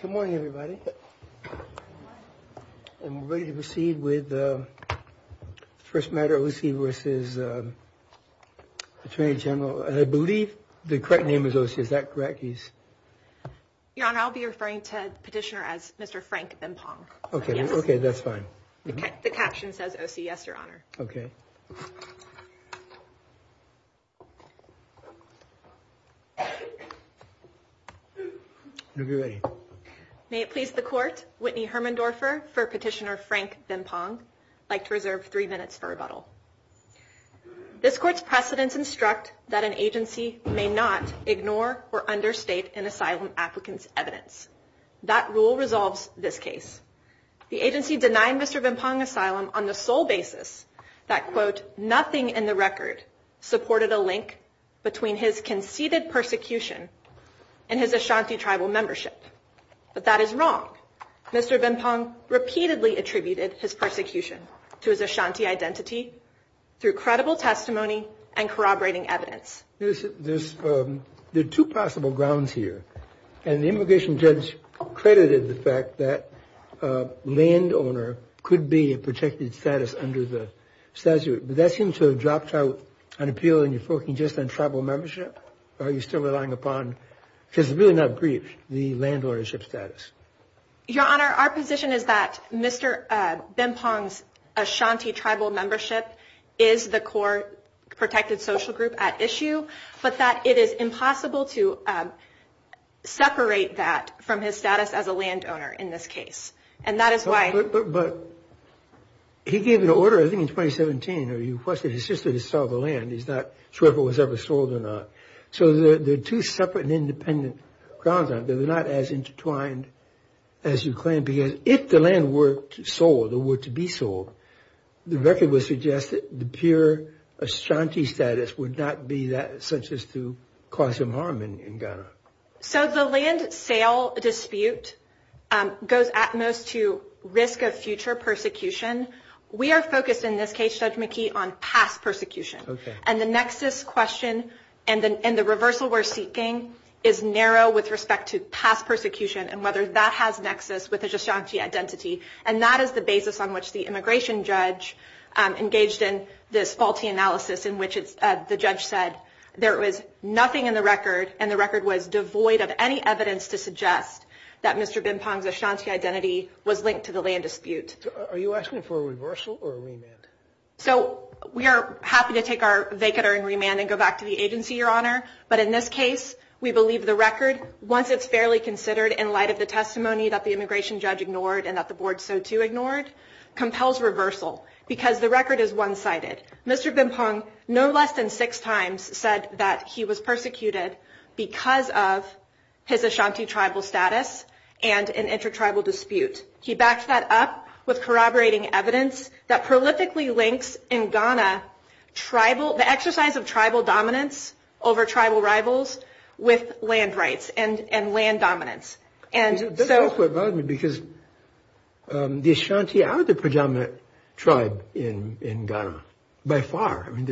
Good morning, everybody. And we're ready to proceed with the first matter Ocee v. Attorney General. And I believe the correct name is Ocee. Is that correct? Your Honor, I'll be referring to petitioner as Mr. Frank Benpong. OK, OK, that's fine. The caption says Ocee. Yes, Your Honor. OK. May it please the court, Whitney Hermendorfer for petitioner Frank Benpong, I'd like to reserve three minutes for rebuttal. This court's precedents instruct that an agency may not ignore or understate an asylum applicant's evidence. That rule resolves this case. The agency denied Mr. Benpong asylum on the sole basis that, quote, nothing in the record supported a link between his conceded persecution and his Ashanti tribal membership. But that is wrong. Mr. Benpong repeatedly attributed his persecution to his Ashanti identity through credible testimony and corroborating evidence. There's two possible grounds here. And the immigration judge credited the fact that a landowner could be a protected status under the statute. But that seems to have dropped out an appeal and you're focusing just on tribal membership. Are you still relying upon, because it's really not brief, the land ownership status? Your Honor, our position is that Mr. Benpong's Ashanti tribal membership is the core protected social group at issue, but that it is impossible to separate that from his status as a landowner in this case. And that is why. But he gave an order, I think in 2017, where he requested his sister to sell the land. He's not sure if it was ever sold or not. So the two separate and independent grounds are not as intertwined as you claim, because if the land were sold or were to be sold, the record would suggest that the pure Ashanti status would not be that such as to cause him harm in Ghana. So the land sale dispute goes at most to risk of future persecution. We are focused in this case, Judge McKee, on past persecution. And the nexus question and the reversal we're seeking is narrow with respect to past persecution and whether that has nexus with Ashanti identity. And that is the basis on which the immigration judge engaged in this faulty analysis in which the judge said there was nothing in the record and the record was devoid of any evidence to suggest that Mr. Benpong's Ashanti identity was linked to the land dispute. Are you asking for a reversal or a remand? So we are happy to take our vacater and remand and go back to the agency, Your Honor. But in this case, we believe the record, once it's fairly considered in light of the testimony that the immigration judge ignored and that the board so too ignored, compels reversal because the record is one sided. Mr. Benpong no less than six times said that he was persecuted because of his Ashanti tribal status and an intertribal dispute. He backed that up with corroborating evidence that prolifically links in Ghana tribal, the exercise of tribal dominance over tribal rivals with land rights and land dominance. And so because the Ashanti are the predominant tribe in Ghana by far. I mean,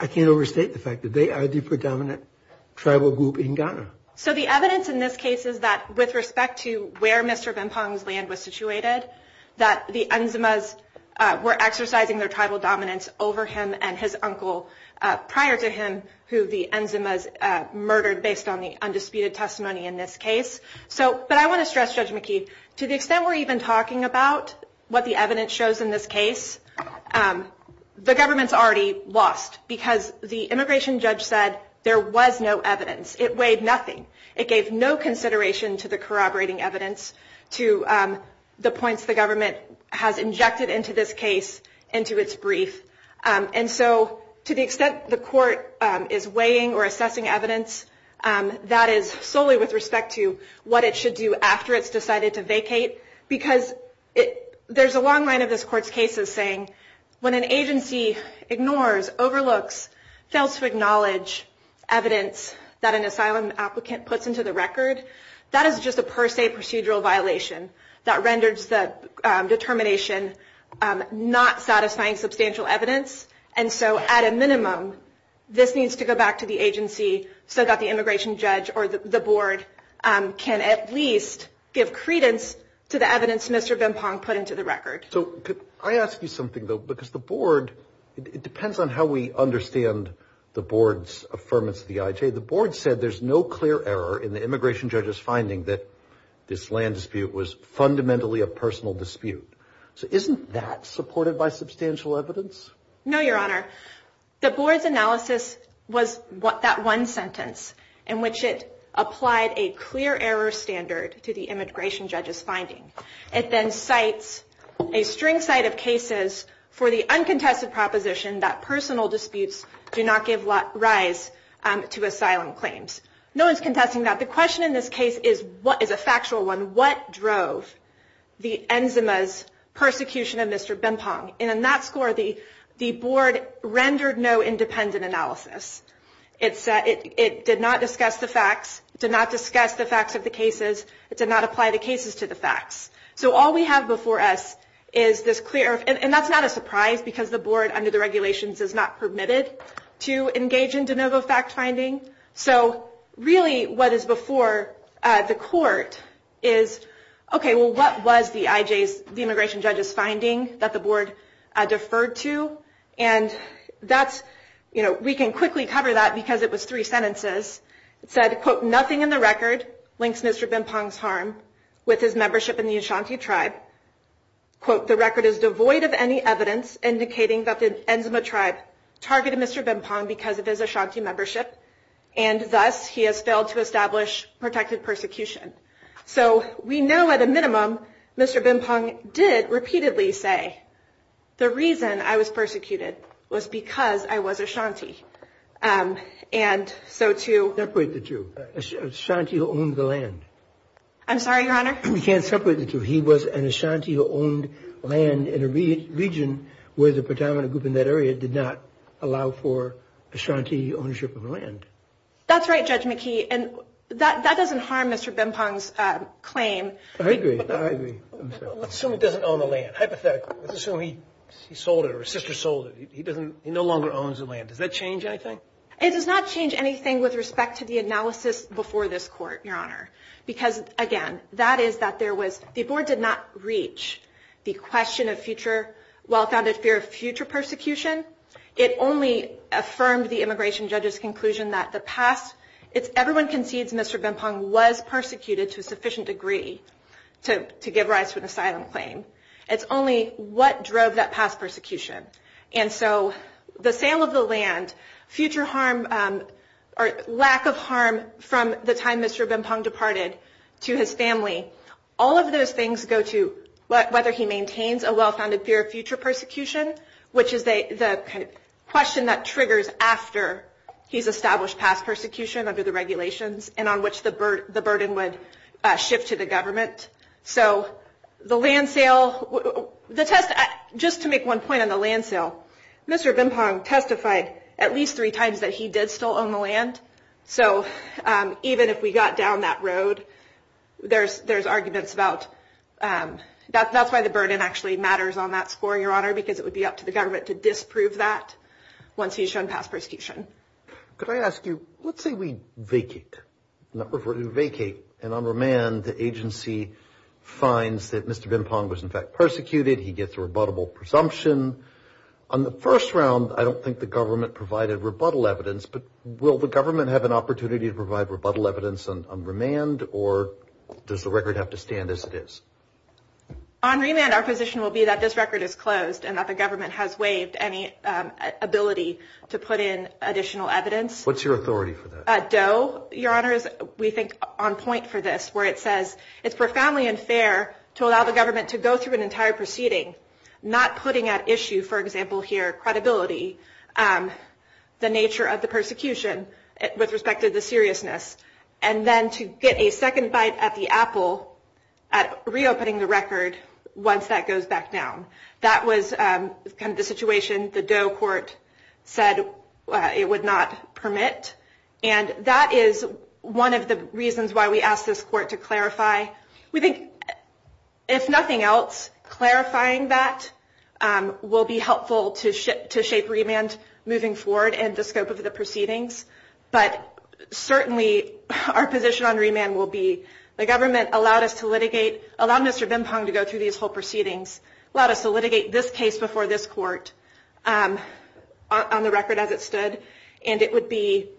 I can't overstate the fact that they are the predominant tribal group in Ghana. So the evidence in this case is that with respect to where Mr. Benpong's land was situated, that the Enzimas were exercising their tribal dominance over him and his uncle prior to him, who the Enzimas murdered based on the undisputed testimony in this case. So but I want to stress, Judge McKeith, to the extent we're even talking about what the evidence shows in this case, the government's already lost because the immigration judge said there was no evidence. It weighed nothing. It gave no consideration to the corroborating evidence, to the points the government has injected into this case, into its brief. And so to the extent the court is weighing or assessing evidence, that is solely with respect to what it should do after it's decided to vacate. Because there's a long line of this court's cases saying when an agency ignores, overlooks, fails to acknowledge evidence that an asylum applicant puts into the record, that is just a per se procedural violation that renders the determination not satisfying substantial evidence. And so at a minimum, this needs to go back to the agency so that the immigration judge or the board can at least give credence to the evidence Mr. Benpong put into the record. So I ask you something, though, because the board, it depends on how we understand the board's affirmance of the IJ. The board said there's no clear error in the immigration judge's finding that this land dispute was fundamentally a personal dispute. So isn't that supported by substantial evidence? No, your honor. The board's analysis was what that one sentence in which it applied a clear error standard to the immigration judge's finding. It then cites a string site of cases for the uncontested proposition that personal disputes do not give rise to asylum claims. No one's contesting that. The question in this case is what is a factual one. What drove the enzimas persecution of Mr. Benpong? And in that score, the board rendered no independent analysis. It said it did not discuss the facts, did not discuss the facts of the cases. It did not apply the cases to the facts. So all we have before us is this clear. And that's not a surprise because the board under the regulations is not permitted to engage in de novo fact finding. So really what is before the court is, OK, well, what was the IJ's, the immigration judge's finding that the board deferred to? And that's, you know, we can quickly cover that because it was three sentences. It said, quote, nothing in the record links Mr. Benpong's harm with his membership in the Ashanti tribe. Quote, the record is devoid of any evidence indicating that the Enzima tribe targeted Mr. Benpong because of his Ashanti membership and thus he has failed to establish protected persecution. So we know at a minimum Mr. Benpong did repeatedly say the reason I was persecuted was because I was Ashanti. And so to separate the two, Ashanti who owned the land. I'm sorry, your honor. We can't separate the two. He was an Ashanti who owned land in a region where the predominant group in that area did not allow for Ashanti ownership of land. That's right, Judge McKee. And that doesn't harm Mr. Benpong's claim. I agree. I agree. Assuming he doesn't own the land, hypothetically, assuming he sold it or his sister sold it, he doesn't, he no longer owns the land. Does that change anything? It does not change anything with respect to the analysis before this court, your honor. Because again, that is that there was, the board did not reach the question of future, well-founded fear of future persecution. It only affirmed the immigration judge's conclusion that the past, it's everyone concedes Mr. Benpong was persecuted to a sufficient degree to give rise to an asylum claim. It's only what drove that past persecution. And so the sale of the land, future harm or lack of harm from the time Mr. Benpong departed to his family, all of those things go to whether he maintains a well-founded fear of future persecution, which is the kind of question that triggers after he's established past persecution under the regulations and on which the burden would shift to the government. So the land sale, the test, just to make one point on the land sale, Mr. Benpong testified at least three times that he did still own the land. So even if we got down that road, there's there's arguments about that. That's why the burden actually matters on that score, your honor, because it would be up to the government to disprove that once he's shown past persecution. Could I ask you, let's say we vacate and on remand, the agency finds that Mr. Benpong was, in fact, persecuted. He gets a rebuttable presumption on the first round. I don't think the government provided rebuttal evidence, but will the government have an opportunity to provide rebuttal evidence on remand or does the record have to stand as it is? On remand, our position will be that this record is closed and that the government has waived any ability to put in additional evidence. What's your authority for that? Doe, your honor, is, we think, on point for this, where it says it's profoundly unfair to allow the government to go through an entire proceeding, not putting at issue, for example, here, credibility, the nature of the persecution with respect to the seriousness. And then to get a second bite at the apple at reopening the record once that goes back down. That was kind of the situation the Doe court said it would not permit. And that is one of the reasons why we asked this court to clarify. We think, if nothing else, clarifying that will be helpful to shape remand moving forward and the scope of the proceedings. But certainly our position on remand will be, the government allowed us to litigate, allowed Mr. Bimpong to go through these whole proceedings, allowed us to litigate this case before this court on the record as it stood. And it would be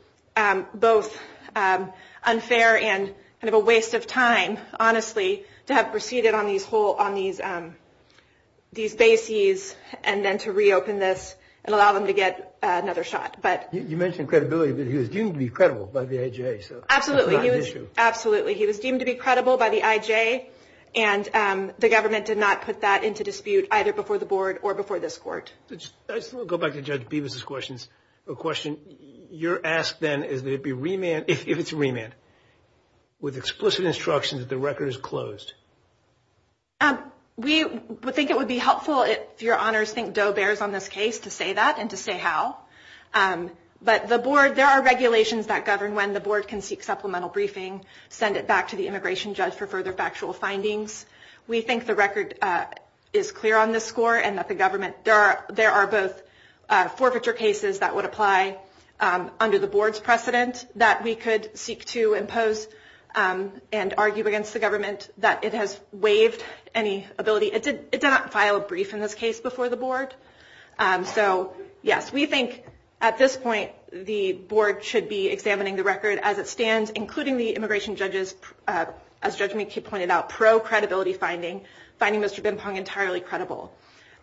both unfair and kind of a waste of time, honestly, to have proceeded on these whole, on these bases and then to reopen this and allow them to get another shot. But you mentioned credibility, but he was deemed to be credible by the IJ. So absolutely, absolutely. He was deemed to be credible by the IJ. And the government did not put that into dispute either before the board or before this court. I still go back to Judge Bevis's questions. A question you're asked then is that it be remand, if it's remand, with explicit instruction that the record is closed. We think it would be helpful if your honors think Doe bears on this case to say that and to say how. But the board, there are regulations that govern when the board can seek supplemental briefing, send it back to the immigration judge for further factual findings. We think the record is clear on this score and that the government, there are both forfeiture cases that would apply under the board's precedent that we could seek to impose and argue against the government that it has waived any ability. It did not file a brief in this case before the board. So, yes, we think at this point the board should be examining the record as it stands, including the immigration judges, as Judge McKee pointed out, pro-credibility finding, finding Mr. Bimpong entirely credible.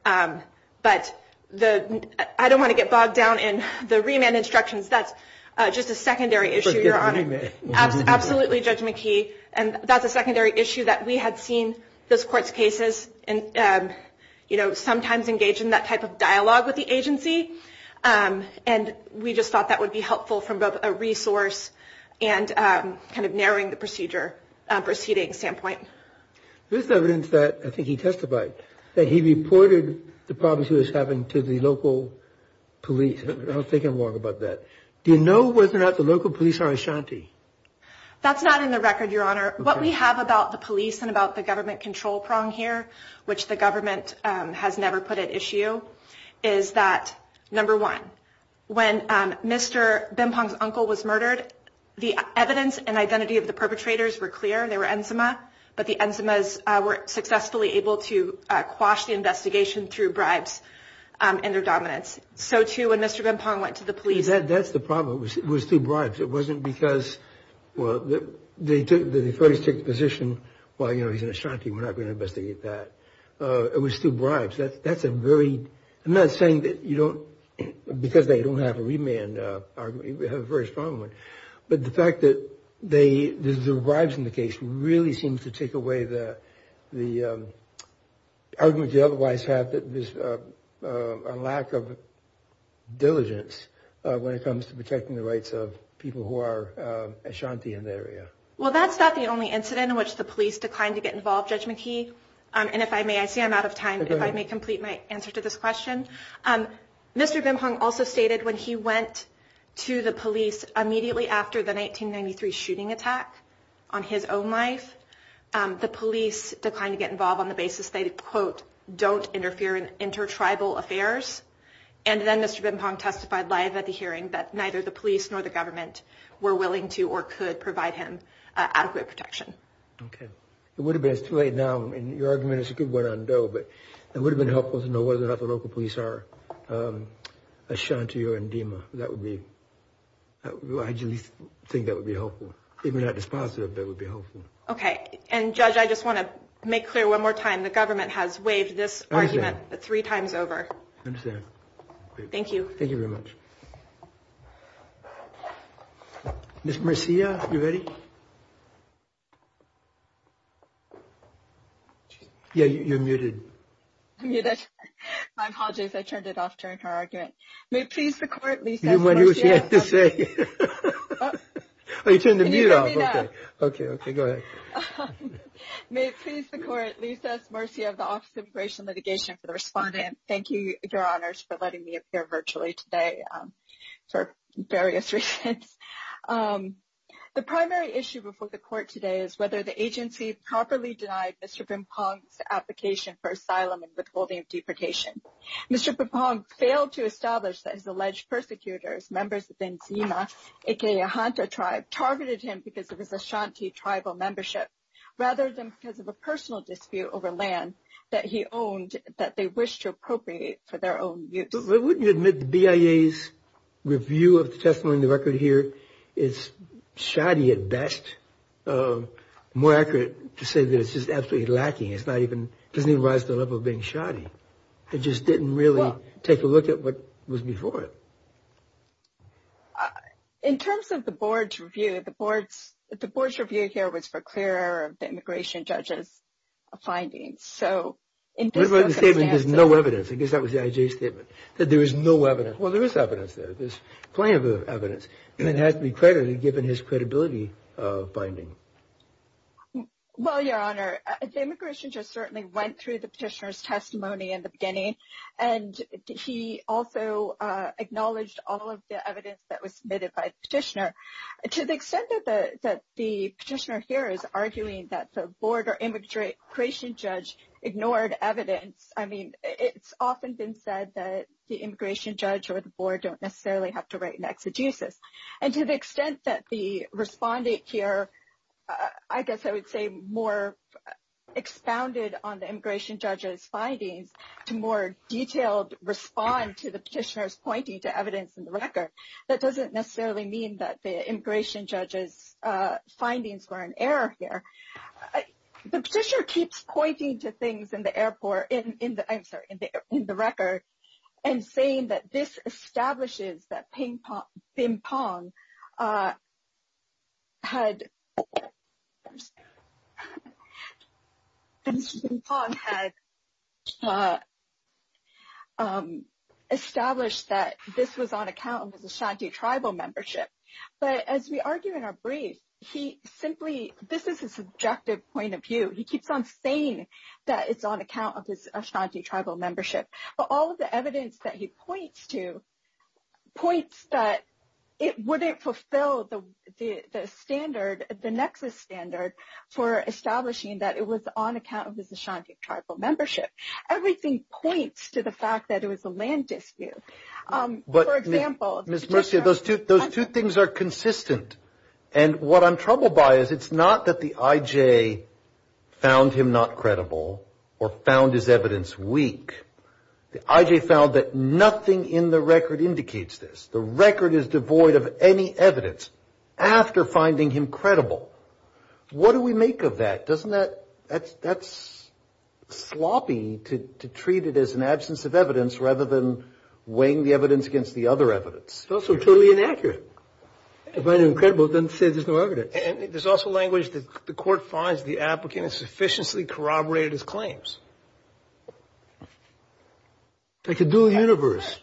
But I don't want to get bogged down in the remand instructions. That's just a secondary issue. Your honor, absolutely, Judge McKee. And that's a secondary issue that we had seen this court's cases and, you know, sometimes engage in that type of dialogue with the agency. And we just thought that would be helpful from both a resource and kind of narrowing the procedure proceeding standpoint. There's evidence that I think he testified that he reported the problems he was having to the local police. I don't think I'm wrong about that. Do you know whether or not the local police are Ashanti? That's not in the record, your honor. What we have about the police and about the government control prong here, which the government has never put at issue, is that, number one, when Mr. Bimpong's uncle was murdered, the evidence and identity of the perpetrators were clear. They were Enzima, but the Enzimas were successfully able to quash the investigation through bribes and their dominance. So, too, when Mr. Bimpong went to the police. That's the problem was through bribes. It wasn't because, well, they took the first position. Well, you know, he's an Ashanti. We're not going to investigate that. It was through bribes. That's a very, I'm not saying that you don't, because they don't have a remand argument, we have a very strong one. But the fact that the bribes in the case really seems to take away the argument you otherwise have that there's a lack of diligence when it comes to protecting the rights of people who are Ashanti in the area. Well, that's not the only incident in which the police declined to get involved, Judge McKee. And if I may, I see I'm out of time, if I may complete my answer to this question. Mr. Bimpong also stated when he went to the police immediately after the 1993 shooting attack on his own life, the police declined to get involved on the basis they, quote, don't interfere in inter-tribal affairs. And then Mr. Bimpong testified live at the hearing that neither the police nor the government were willing to or could provide him adequate protection. OK. It would have been, it's too late now, and your argument is a good one on Doe, but it would have been helpful to know whether or not the local police are Ashanti or Ndima. That would be, I think that would be helpful, even if not dispositive, that would be helpful. OK. And, Judge, I just want to make clear one more time, the government has waived this argument three times over. I understand. Thank you. Thank you very much. Ms. Murcia, you ready? Yeah, you're muted. I'm muted. I apologize, I turned it off during her argument. May it please the Court, Lisa S. Murcia of the Office of Immigration Litigation, for the respondent. Thank you, Your Honors, for letting me appear virtually today for various reasons. The primary issue before the Court today is whether the agency properly denied Mr. Bimpong's application for asylum and withholding of deportation. Mr. Bimpong failed to establish that his alleged persecutors, members of the Ndima, a.k.a. Ahanta tribe, targeted him because of his Ashanti tribal membership, rather than because of a personal dispute over land that he owned that they wished to appropriate for their own use. So wouldn't you admit the BIA's review of the testimony in the record here is shoddy at best? More accurate to say that it's just absolutely lacking. It's not even, doesn't even rise to the level of being shoddy. It just didn't really take a look at what was before it. In terms of the Board's review, the Board's review here was for clearer of the immigration judge's findings. The statement, there's no evidence, I guess that was the IJ statement, that there is no evidence. Well, there is evidence there. There's plenty of evidence, and it has to be credited given his credibility of finding. Well, Your Honor, the immigration judge certainly went through the petitioner's testimony in the beginning, and he also acknowledged all of the evidence that was submitted by the petitioner. To the extent that the petitioner here is arguing that the Board or immigration judge ignored evidence, I mean, it's often been said that the immigration judge or the Board don't necessarily have to write an exegesis. And to the extent that the respondent here, I guess I would say, more expounded on the immigration judge's findings to more detailed respond to the petitioner's pointing to evidence in the record, that doesn't necessarily mean that the immigration judge's findings were in error here. The petitioner keeps pointing to things in the record and saying that this establishes that Ping Pong had established that this was on account of the Shanty Tribal membership. But as we argue in our brief, this is a subjective point of view. He keeps on saying that it's on account of his Shanty Tribal membership. But all of the evidence that he points to points that it wouldn't fulfill the standard, the nexus standard, for establishing that it was on account of his Shanty Tribal membership. Everything points to the fact that it was a land dispute. But Ms. Mercia, those two things are consistent. And what I'm troubled by is it's not that the IJ found him not credible or found his evidence weak. The IJ found that nothing in the record indicates this. The record is devoid of any evidence after finding him credible. What do we make of that? Doesn't that – that's sloppy to treat it as an absence of evidence rather than weighing the evidence against the other evidence. It's also totally inaccurate. If I didn't find him credible, it doesn't say there's no evidence. And there's also language that the court finds the applicant has sufficiently corroborated his claims. It's a dual universe.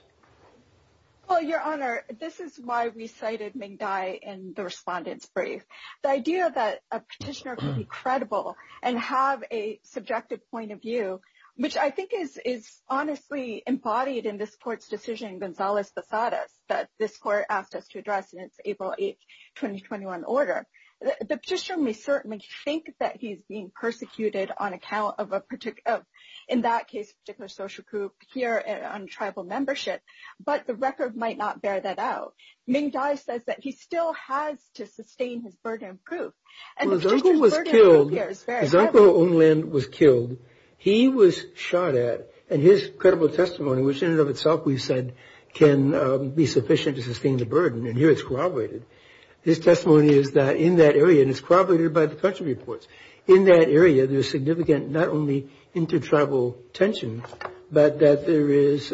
Well, Your Honor, this is why we cited Ming Dai in the respondent's brief. The idea that a petitioner could be credible and have a subjective point of view, which I think is honestly embodied in this court's decision in Gonzales-Basadas that this court asked us to address in its April 8, 2021, order. The petitioner may certainly think that he's being persecuted on account of, in that case, a particular social group here on tribal membership. But the record might not bear that out. Ming Dai says that he still has to sustain his burden of proof. Well, Zunko was killed. Zunko Onglin was killed. He was shot at. And his credible testimony, which in and of itself we've said can be sufficient to sustain the burden, and here it's corroborated. His testimony is that in that area – and it's corroborated by the country reports – in that area, there's significant not only inter-tribal tension, but that there is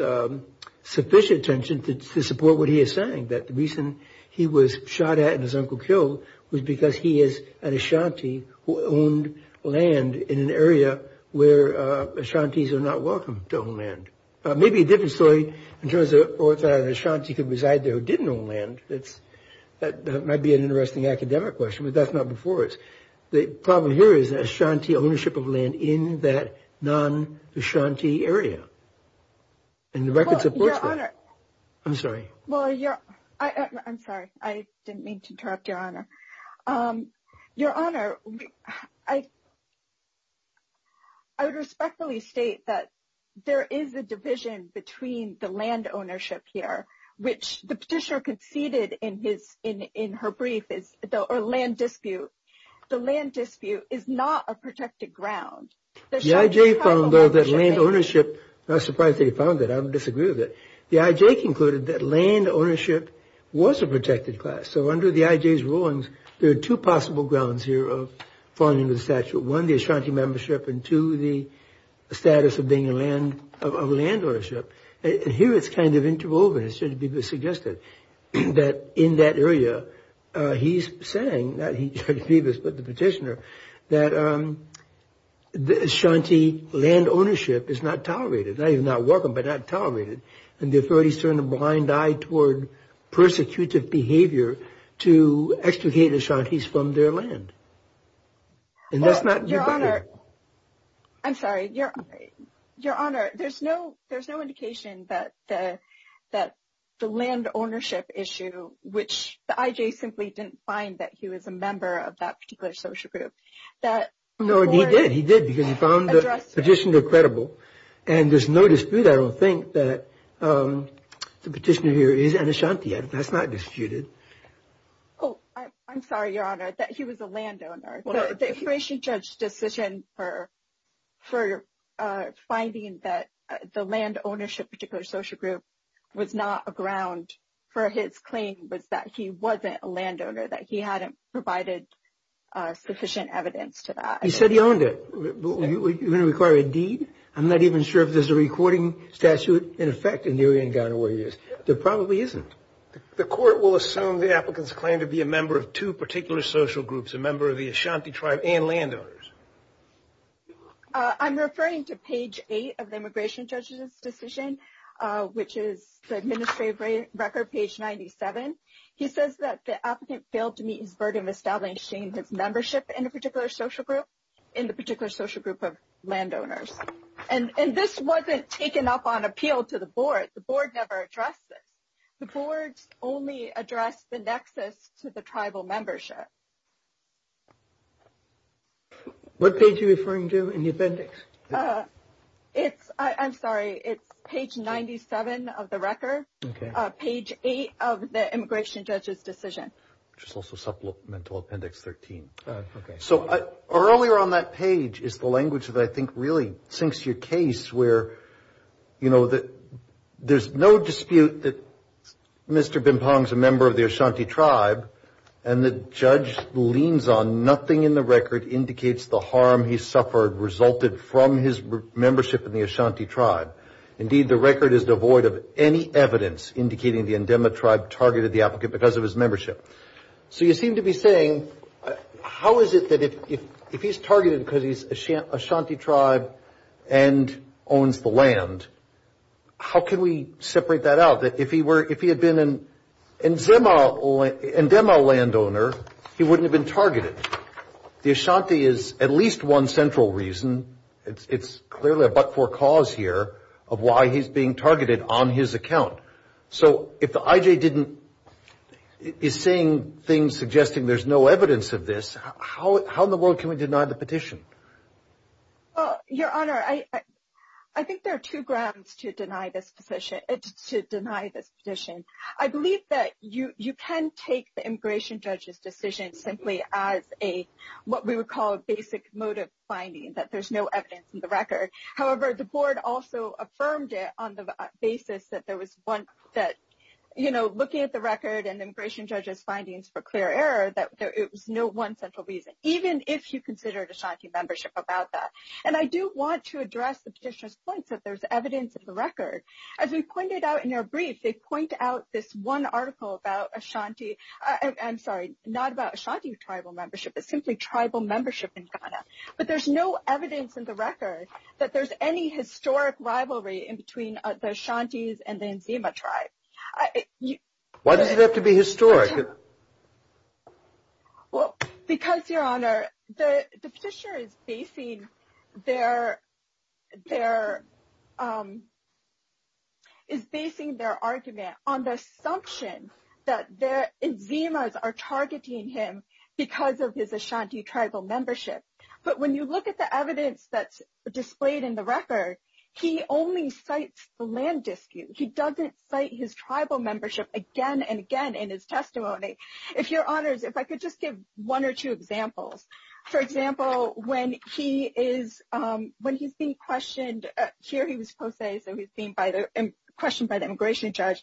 sufficient tension to support what he is saying. That the reason he was shot at and his uncle killed was because he is an Ashanti who owned land in an area where Ashantis are not welcome to own land. Maybe a different story in terms of whether an Ashanti could reside there who didn't own land. That might be an interesting academic question, but that's not before us. The problem here is the Ashanti ownership of land in that non-Ashanti area. And the record supports that. I'm sorry. Well, I'm sorry. I didn't mean to interrupt, Your Honor. Your Honor, I would respectfully state that there is a division between the land ownership here, which the petitioner conceded in her brief, or land dispute. The land dispute is not a protected ground. The I.J. found, though, that land ownership – I'm surprised that he found that. I would disagree with it. The I.J. concluded that land ownership was a protected class. So under the I.J.'s rulings, there are two possible grounds here of falling under the statute. One, the Ashanti membership, and two, the status of being a land – of land ownership. And here it's kind of interwoven. It should be suggested that in that area, he's saying – not George Phoebus, but the petitioner – that Ashanti land ownership is not tolerated. Not even not welcome, but not tolerated. And the authorities turn a blind eye toward persecutive behavior to extricate Ashantis from their land. And that's not – Your Honor, I'm sorry. Your Honor, there's no indication that the land ownership issue, which the I.J. simply didn't find that he was a member of that particular social group. No, he did. He did, because he found the petitioner credible. And there's no dispute, I don't think, that the petitioner here is an Ashanti. That's not disputed. Oh, I'm sorry, Your Honor, that he was a land owner. The information judge's decision for finding that the land ownership of a particular social group was not a ground for his claim was that he wasn't a land owner, that he hadn't provided sufficient evidence to that. He said he owned it. Are you going to require a deed? I'm not even sure if there's a recording statute in effect in the Uriangan or where he is. There probably isn't. The court will assume the applicant's claim to be a member of two particular social groups, a member of the Ashanti tribe and land owners. I'm referring to page 8 of the immigration judge's decision, which is the administrative record, page 97. He says that the applicant failed to meet his burden of establishing his membership in a particular social group, in the particular social group of land owners. And this wasn't taken up on appeal to the board. The board never addressed it. The board only addressed the nexus to the tribal membership. What page are you referring to in the appendix? It's, I'm sorry, it's page 97 of the record, page 8 of the immigration judge's decision. Which is also supplemental appendix 13. So earlier on that page is the language that I think really sinks your case where, you know, there's no dispute that Mr. Bimpong's a member of the Ashanti tribe, and the judge leans on nothing in the record indicates the harm he suffered resulted from his membership in the Ashanti tribe. Indeed, the record is devoid of any evidence indicating the Ndema tribe targeted the applicant because of his membership. So you seem to be saying, how is it that if he's targeted because he's Ashanti tribe and owns the land, how can we separate that out? That if he had been an Ndema landowner, he wouldn't have been targeted. The Ashanti is at least one central reason. It's clearly a but-for cause here of why he's being targeted on his account. So if the IJ didn't, is saying things suggesting there's no evidence of this, how in the world can we deny the petition? Well, Your Honor, I think there are two grounds to deny this petition. I believe that you can take the immigration judge's decision simply as a, what we would call a basic motive finding, that there's no evidence in the record. However, the board also affirmed it on the basis that there was one that, you know, looking at the record and the immigration judge's findings for clear error, that it was no one central reason, even if you considered Ashanti membership about that. And I do want to address the petitioner's point that there's evidence in the record. As we pointed out in our brief, they point out this one article about Ashanti. I'm sorry, not about Ashanti tribal membership, but simply tribal membership in Ghana. But there's no evidence in the record that there's any historic rivalry in between the Ashantis and the Nzema tribe. Why does it have to be historic? Well, because, Your Honor, the petitioner is basing their argument on the assumption that the Nzemas are targeting him because of his Ashanti tribal membership. But when you look at the evidence that's displayed in the record, he only cites the land dispute. He doesn't cite his tribal membership again and again in his testimony. If Your Honors, if I could just give one or two examples. For example, when he's being questioned, here he was posthased and he's being questioned by the immigration judge.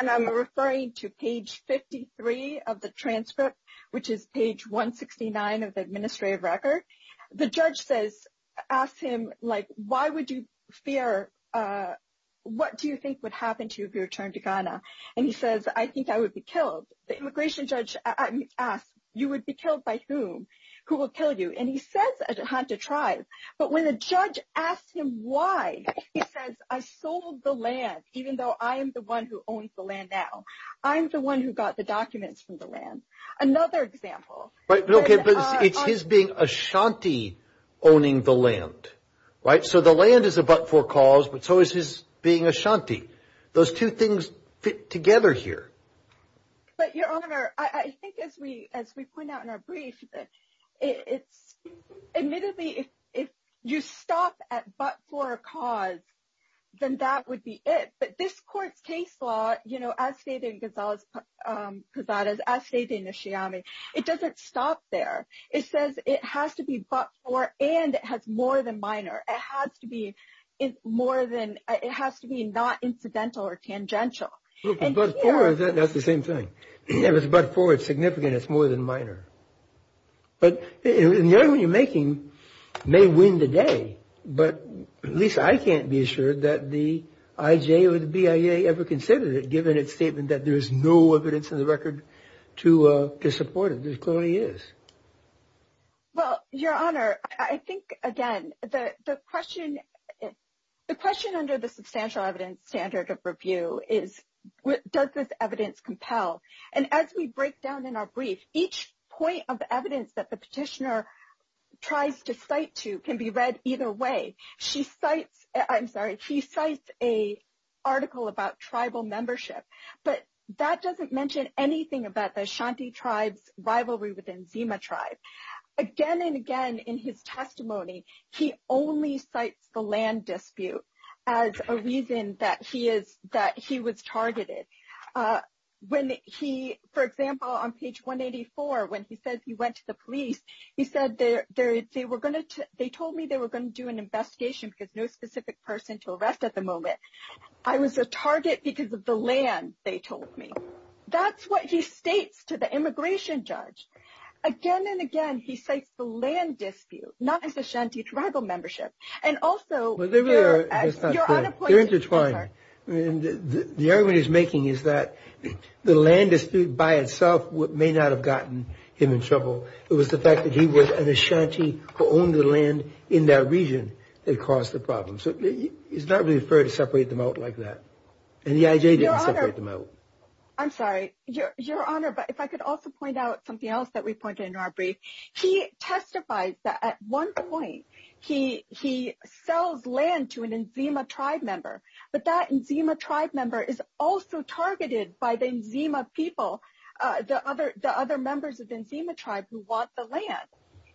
And I'm referring to page 53 of the transcript, which is page 169 of the administrative record. The judge asks him, like, why would you fear, what do you think would happen to you if you returned to Ghana? And he says, I think I would be killed. The immigration judge asks, you would be killed by whom? Who will kill you? And he says Ashanti tribe. But when the judge asks him why, he says, I sold the land, even though I am the one who owns the land now. I'm the one who got the documents from the land. Another example. It's his being Ashanti owning the land, right? So the land is a but-for cause, but so is his being Ashanti. Those two things fit together here. But Your Honor, I think as we as we point out in our brief, it's admittedly if you stop at but-for cause, then that would be it. But this court's case law, you know, as stated in Gonzalez-Cruzada's, as stated in Nishiyama, it doesn't stop there. It says it has to be but-for and it has more than minor. It has to be more than it has to be not incidental or tangential. But-for, that's the same thing. If it's but-for, it's significant. It's more than minor. But the argument you're making may win the day, but at least I can't be assured that the IJ or the BIA ever considered it, given its statement that there is no evidence in the record to support it. There clearly is. Well, Your Honor, I think, again, the question under the substantial evidence standard of review is does this evidence compel? And as we break down in our brief, each point of evidence that the petitioner tries to cite to can be read either way. She cites, I'm sorry, he cites an article about tribal membership, but that doesn't mention anything about the Ashanti tribe's rivalry within Zima tribe. Again and again in his testimony, he only cites the land dispute as a reason that he was targeted. When he-for example, on page 184, when he says he went to the police, he said they were going to-they told me they were going to do an investigation because no specific person to arrest at the moment. I was a target because of the land, they told me. That's what he states to the immigration judge. Again and again, he cites the land dispute, not his Ashanti tribal membership. And also- What I'm thinking is that the land dispute by itself may not have gotten him in trouble. It was the fact that he was an Ashanti who owned the land in that region that caused the problem. So it's not really fair to separate them out like that. And the IJ didn't separate them out. I'm sorry, Your Honor, but if I could also point out something else that we pointed in our brief. He testifies that at one point, he sells land to an Nzema tribe member. But that Nzema tribe member is also targeted by the Nzema people, the other members of the Nzema tribe who want the land.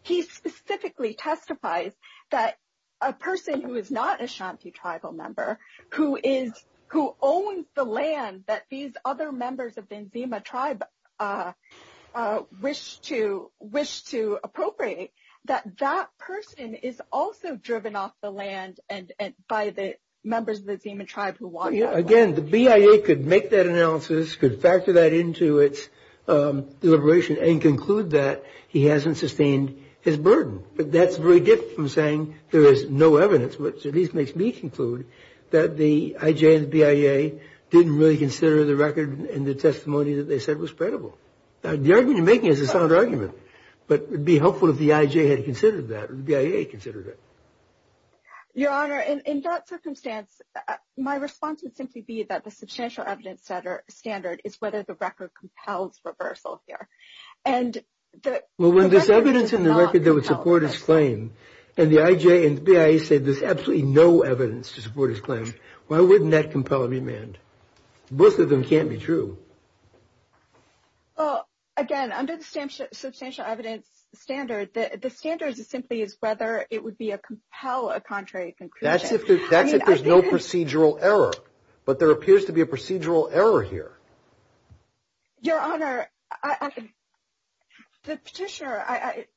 He specifically testifies that a person who is not an Ashanti tribal member, who owns the land that these other members of the Nzema tribe wish to appropriate, that that person is also driven off the land by the members of the Nzema tribe who want that land. Again, the BIA could make that analysis, could factor that into its deliberation and conclude that he hasn't sustained his burden. But that's very different from saying there is no evidence, which at least makes me conclude that the IJ and the BIA didn't really consider the record and the testimony that they said was credible. The argument you're making is a sound argument. But it would be helpful if the IJ had considered that or the BIA considered it. Your Honor, in that circumstance, my response would simply be that the substantial evidence standard is whether the record compels reversal here. Well, when there's evidence in the record that would support his claim, and the IJ and the BIA say there's absolutely no evidence to support his claim, why wouldn't that compel a remand? Both of them can't be true. Well, again, under the substantial evidence standard, the standard simply is whether it would compel a contrary conclusion. That's if there's no procedural error. But there appears to be a procedural error here. Your Honor, the Petitioner,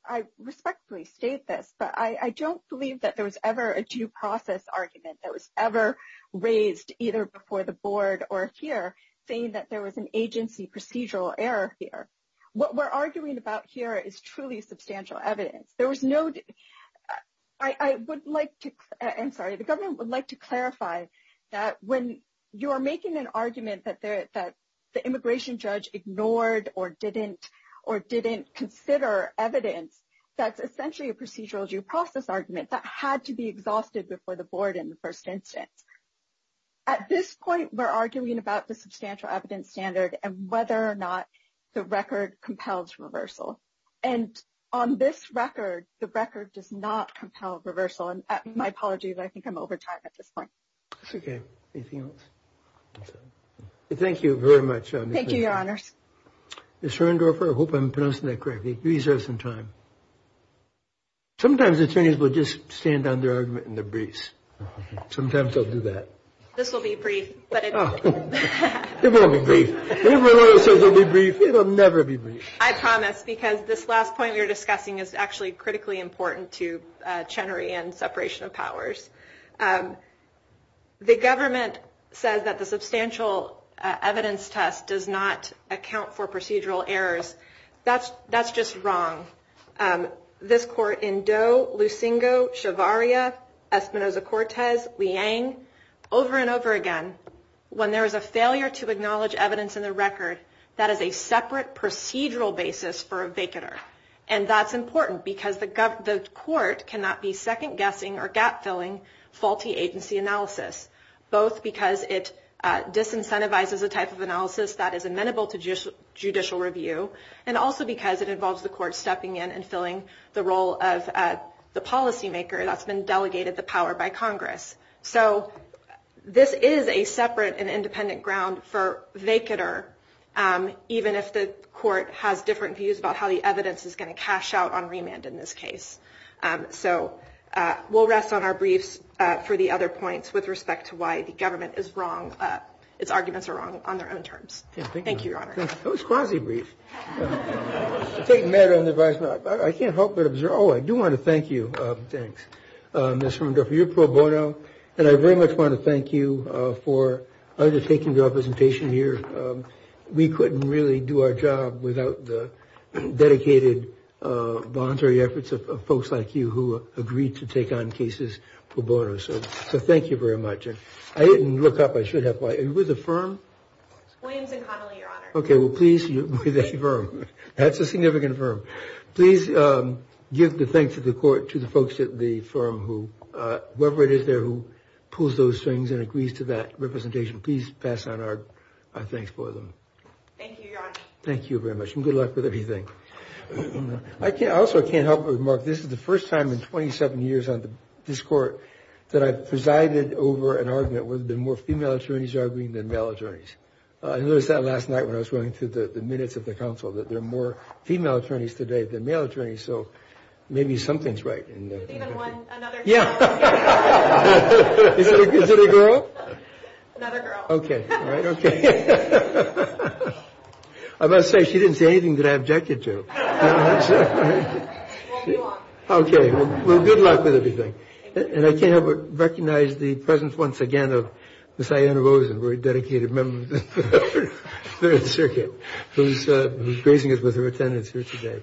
I respectfully state this, but I don't believe that there was ever a due process argument that was ever raised either before the Board or here saying that there was an agency procedural error here. What we're arguing about here is truly substantial evidence. I would like to clarify that when you're making an argument that the immigration judge ignored or didn't consider evidence, that's essentially a procedural due process argument that had to be exhausted before the Board in the first instance. At this point, we're arguing about the substantial evidence standard and whether or not the record compels reversal. And on this record, the record does not compel reversal. And my apologies, I think I'm over time at this point. That's okay. Anything else? Thank you very much. Thank you, Your Honors. Ms. Herndorfer, I hope I'm pronouncing that correctly. You deserve some time. Sometimes attorneys will just stand on their argument in the breeze. Sometimes they'll do that. This will be brief. It won't be brief. It will never be brief. I promise, because this last point we were discussing is actually critically important to Chenery and separation of powers. The government says that the substantial evidence test does not account for procedural errors. That's just wrong. This court in Doe, Lucingo, Shavaria, Espinosa-Cortez, Liang, over and over again, when there is a failure to acknowledge evidence in the record, that is a separate procedural basis for a vacater. And that's important because the court cannot be second-guessing or gap-filling faulty agency analysis, both because it disincentivizes a type of analysis that is amenable to judicial review, and also because it involves the court stepping in and filling the role of the policymaker that's been delegated the power by Congress. So this is a separate and independent ground for vacater, even if the court has different views about how the evidence is going to cash out on remand in this case. So we'll rest on our briefs for the other points with respect to why the government is wrong, its arguments are wrong on their own terms. Thank you, Your Honor. That was quasi-brief. I can't help but observe. Oh, I do want to thank you. Thanks. Ms. Rumendorf, you're pro bono, and I very much want to thank you for undertaking the representation here. We couldn't really do our job without the dedicated voluntary efforts of folks like you who agreed to take on cases pro bono. So thank you very much. I didn't look up. I should have. Are you with a firm? Williams & Connolly, Your Honor. Okay, well, please, you're with a firm. That's a significant firm. So please give the thanks to the court, to the folks at the firm, whoever it is there who pulls those strings and agrees to that representation. Please pass on our thanks for them. Thank you, Your Honor. Thank you very much, and good luck with everything. I also can't help but remark this is the first time in 27 years on this Court that I've presided over an argument where there have been more female attorneys arguing than male attorneys. I noticed that last night when I was going through the minutes of the counsel, that there are more female attorneys today than male attorneys. So maybe something's right. There's even one, another girl. Yeah. Is it a girl? Another girl. Okay, all right, okay. I must say she didn't say anything that I objected to. Well, you are. Okay, well, good luck with everything. Thank you. And I can't help but recognize the presence once again of Miss Ianna Rosen, a very dedicated member of the Third Circuit who's gracing us with her attendance here today.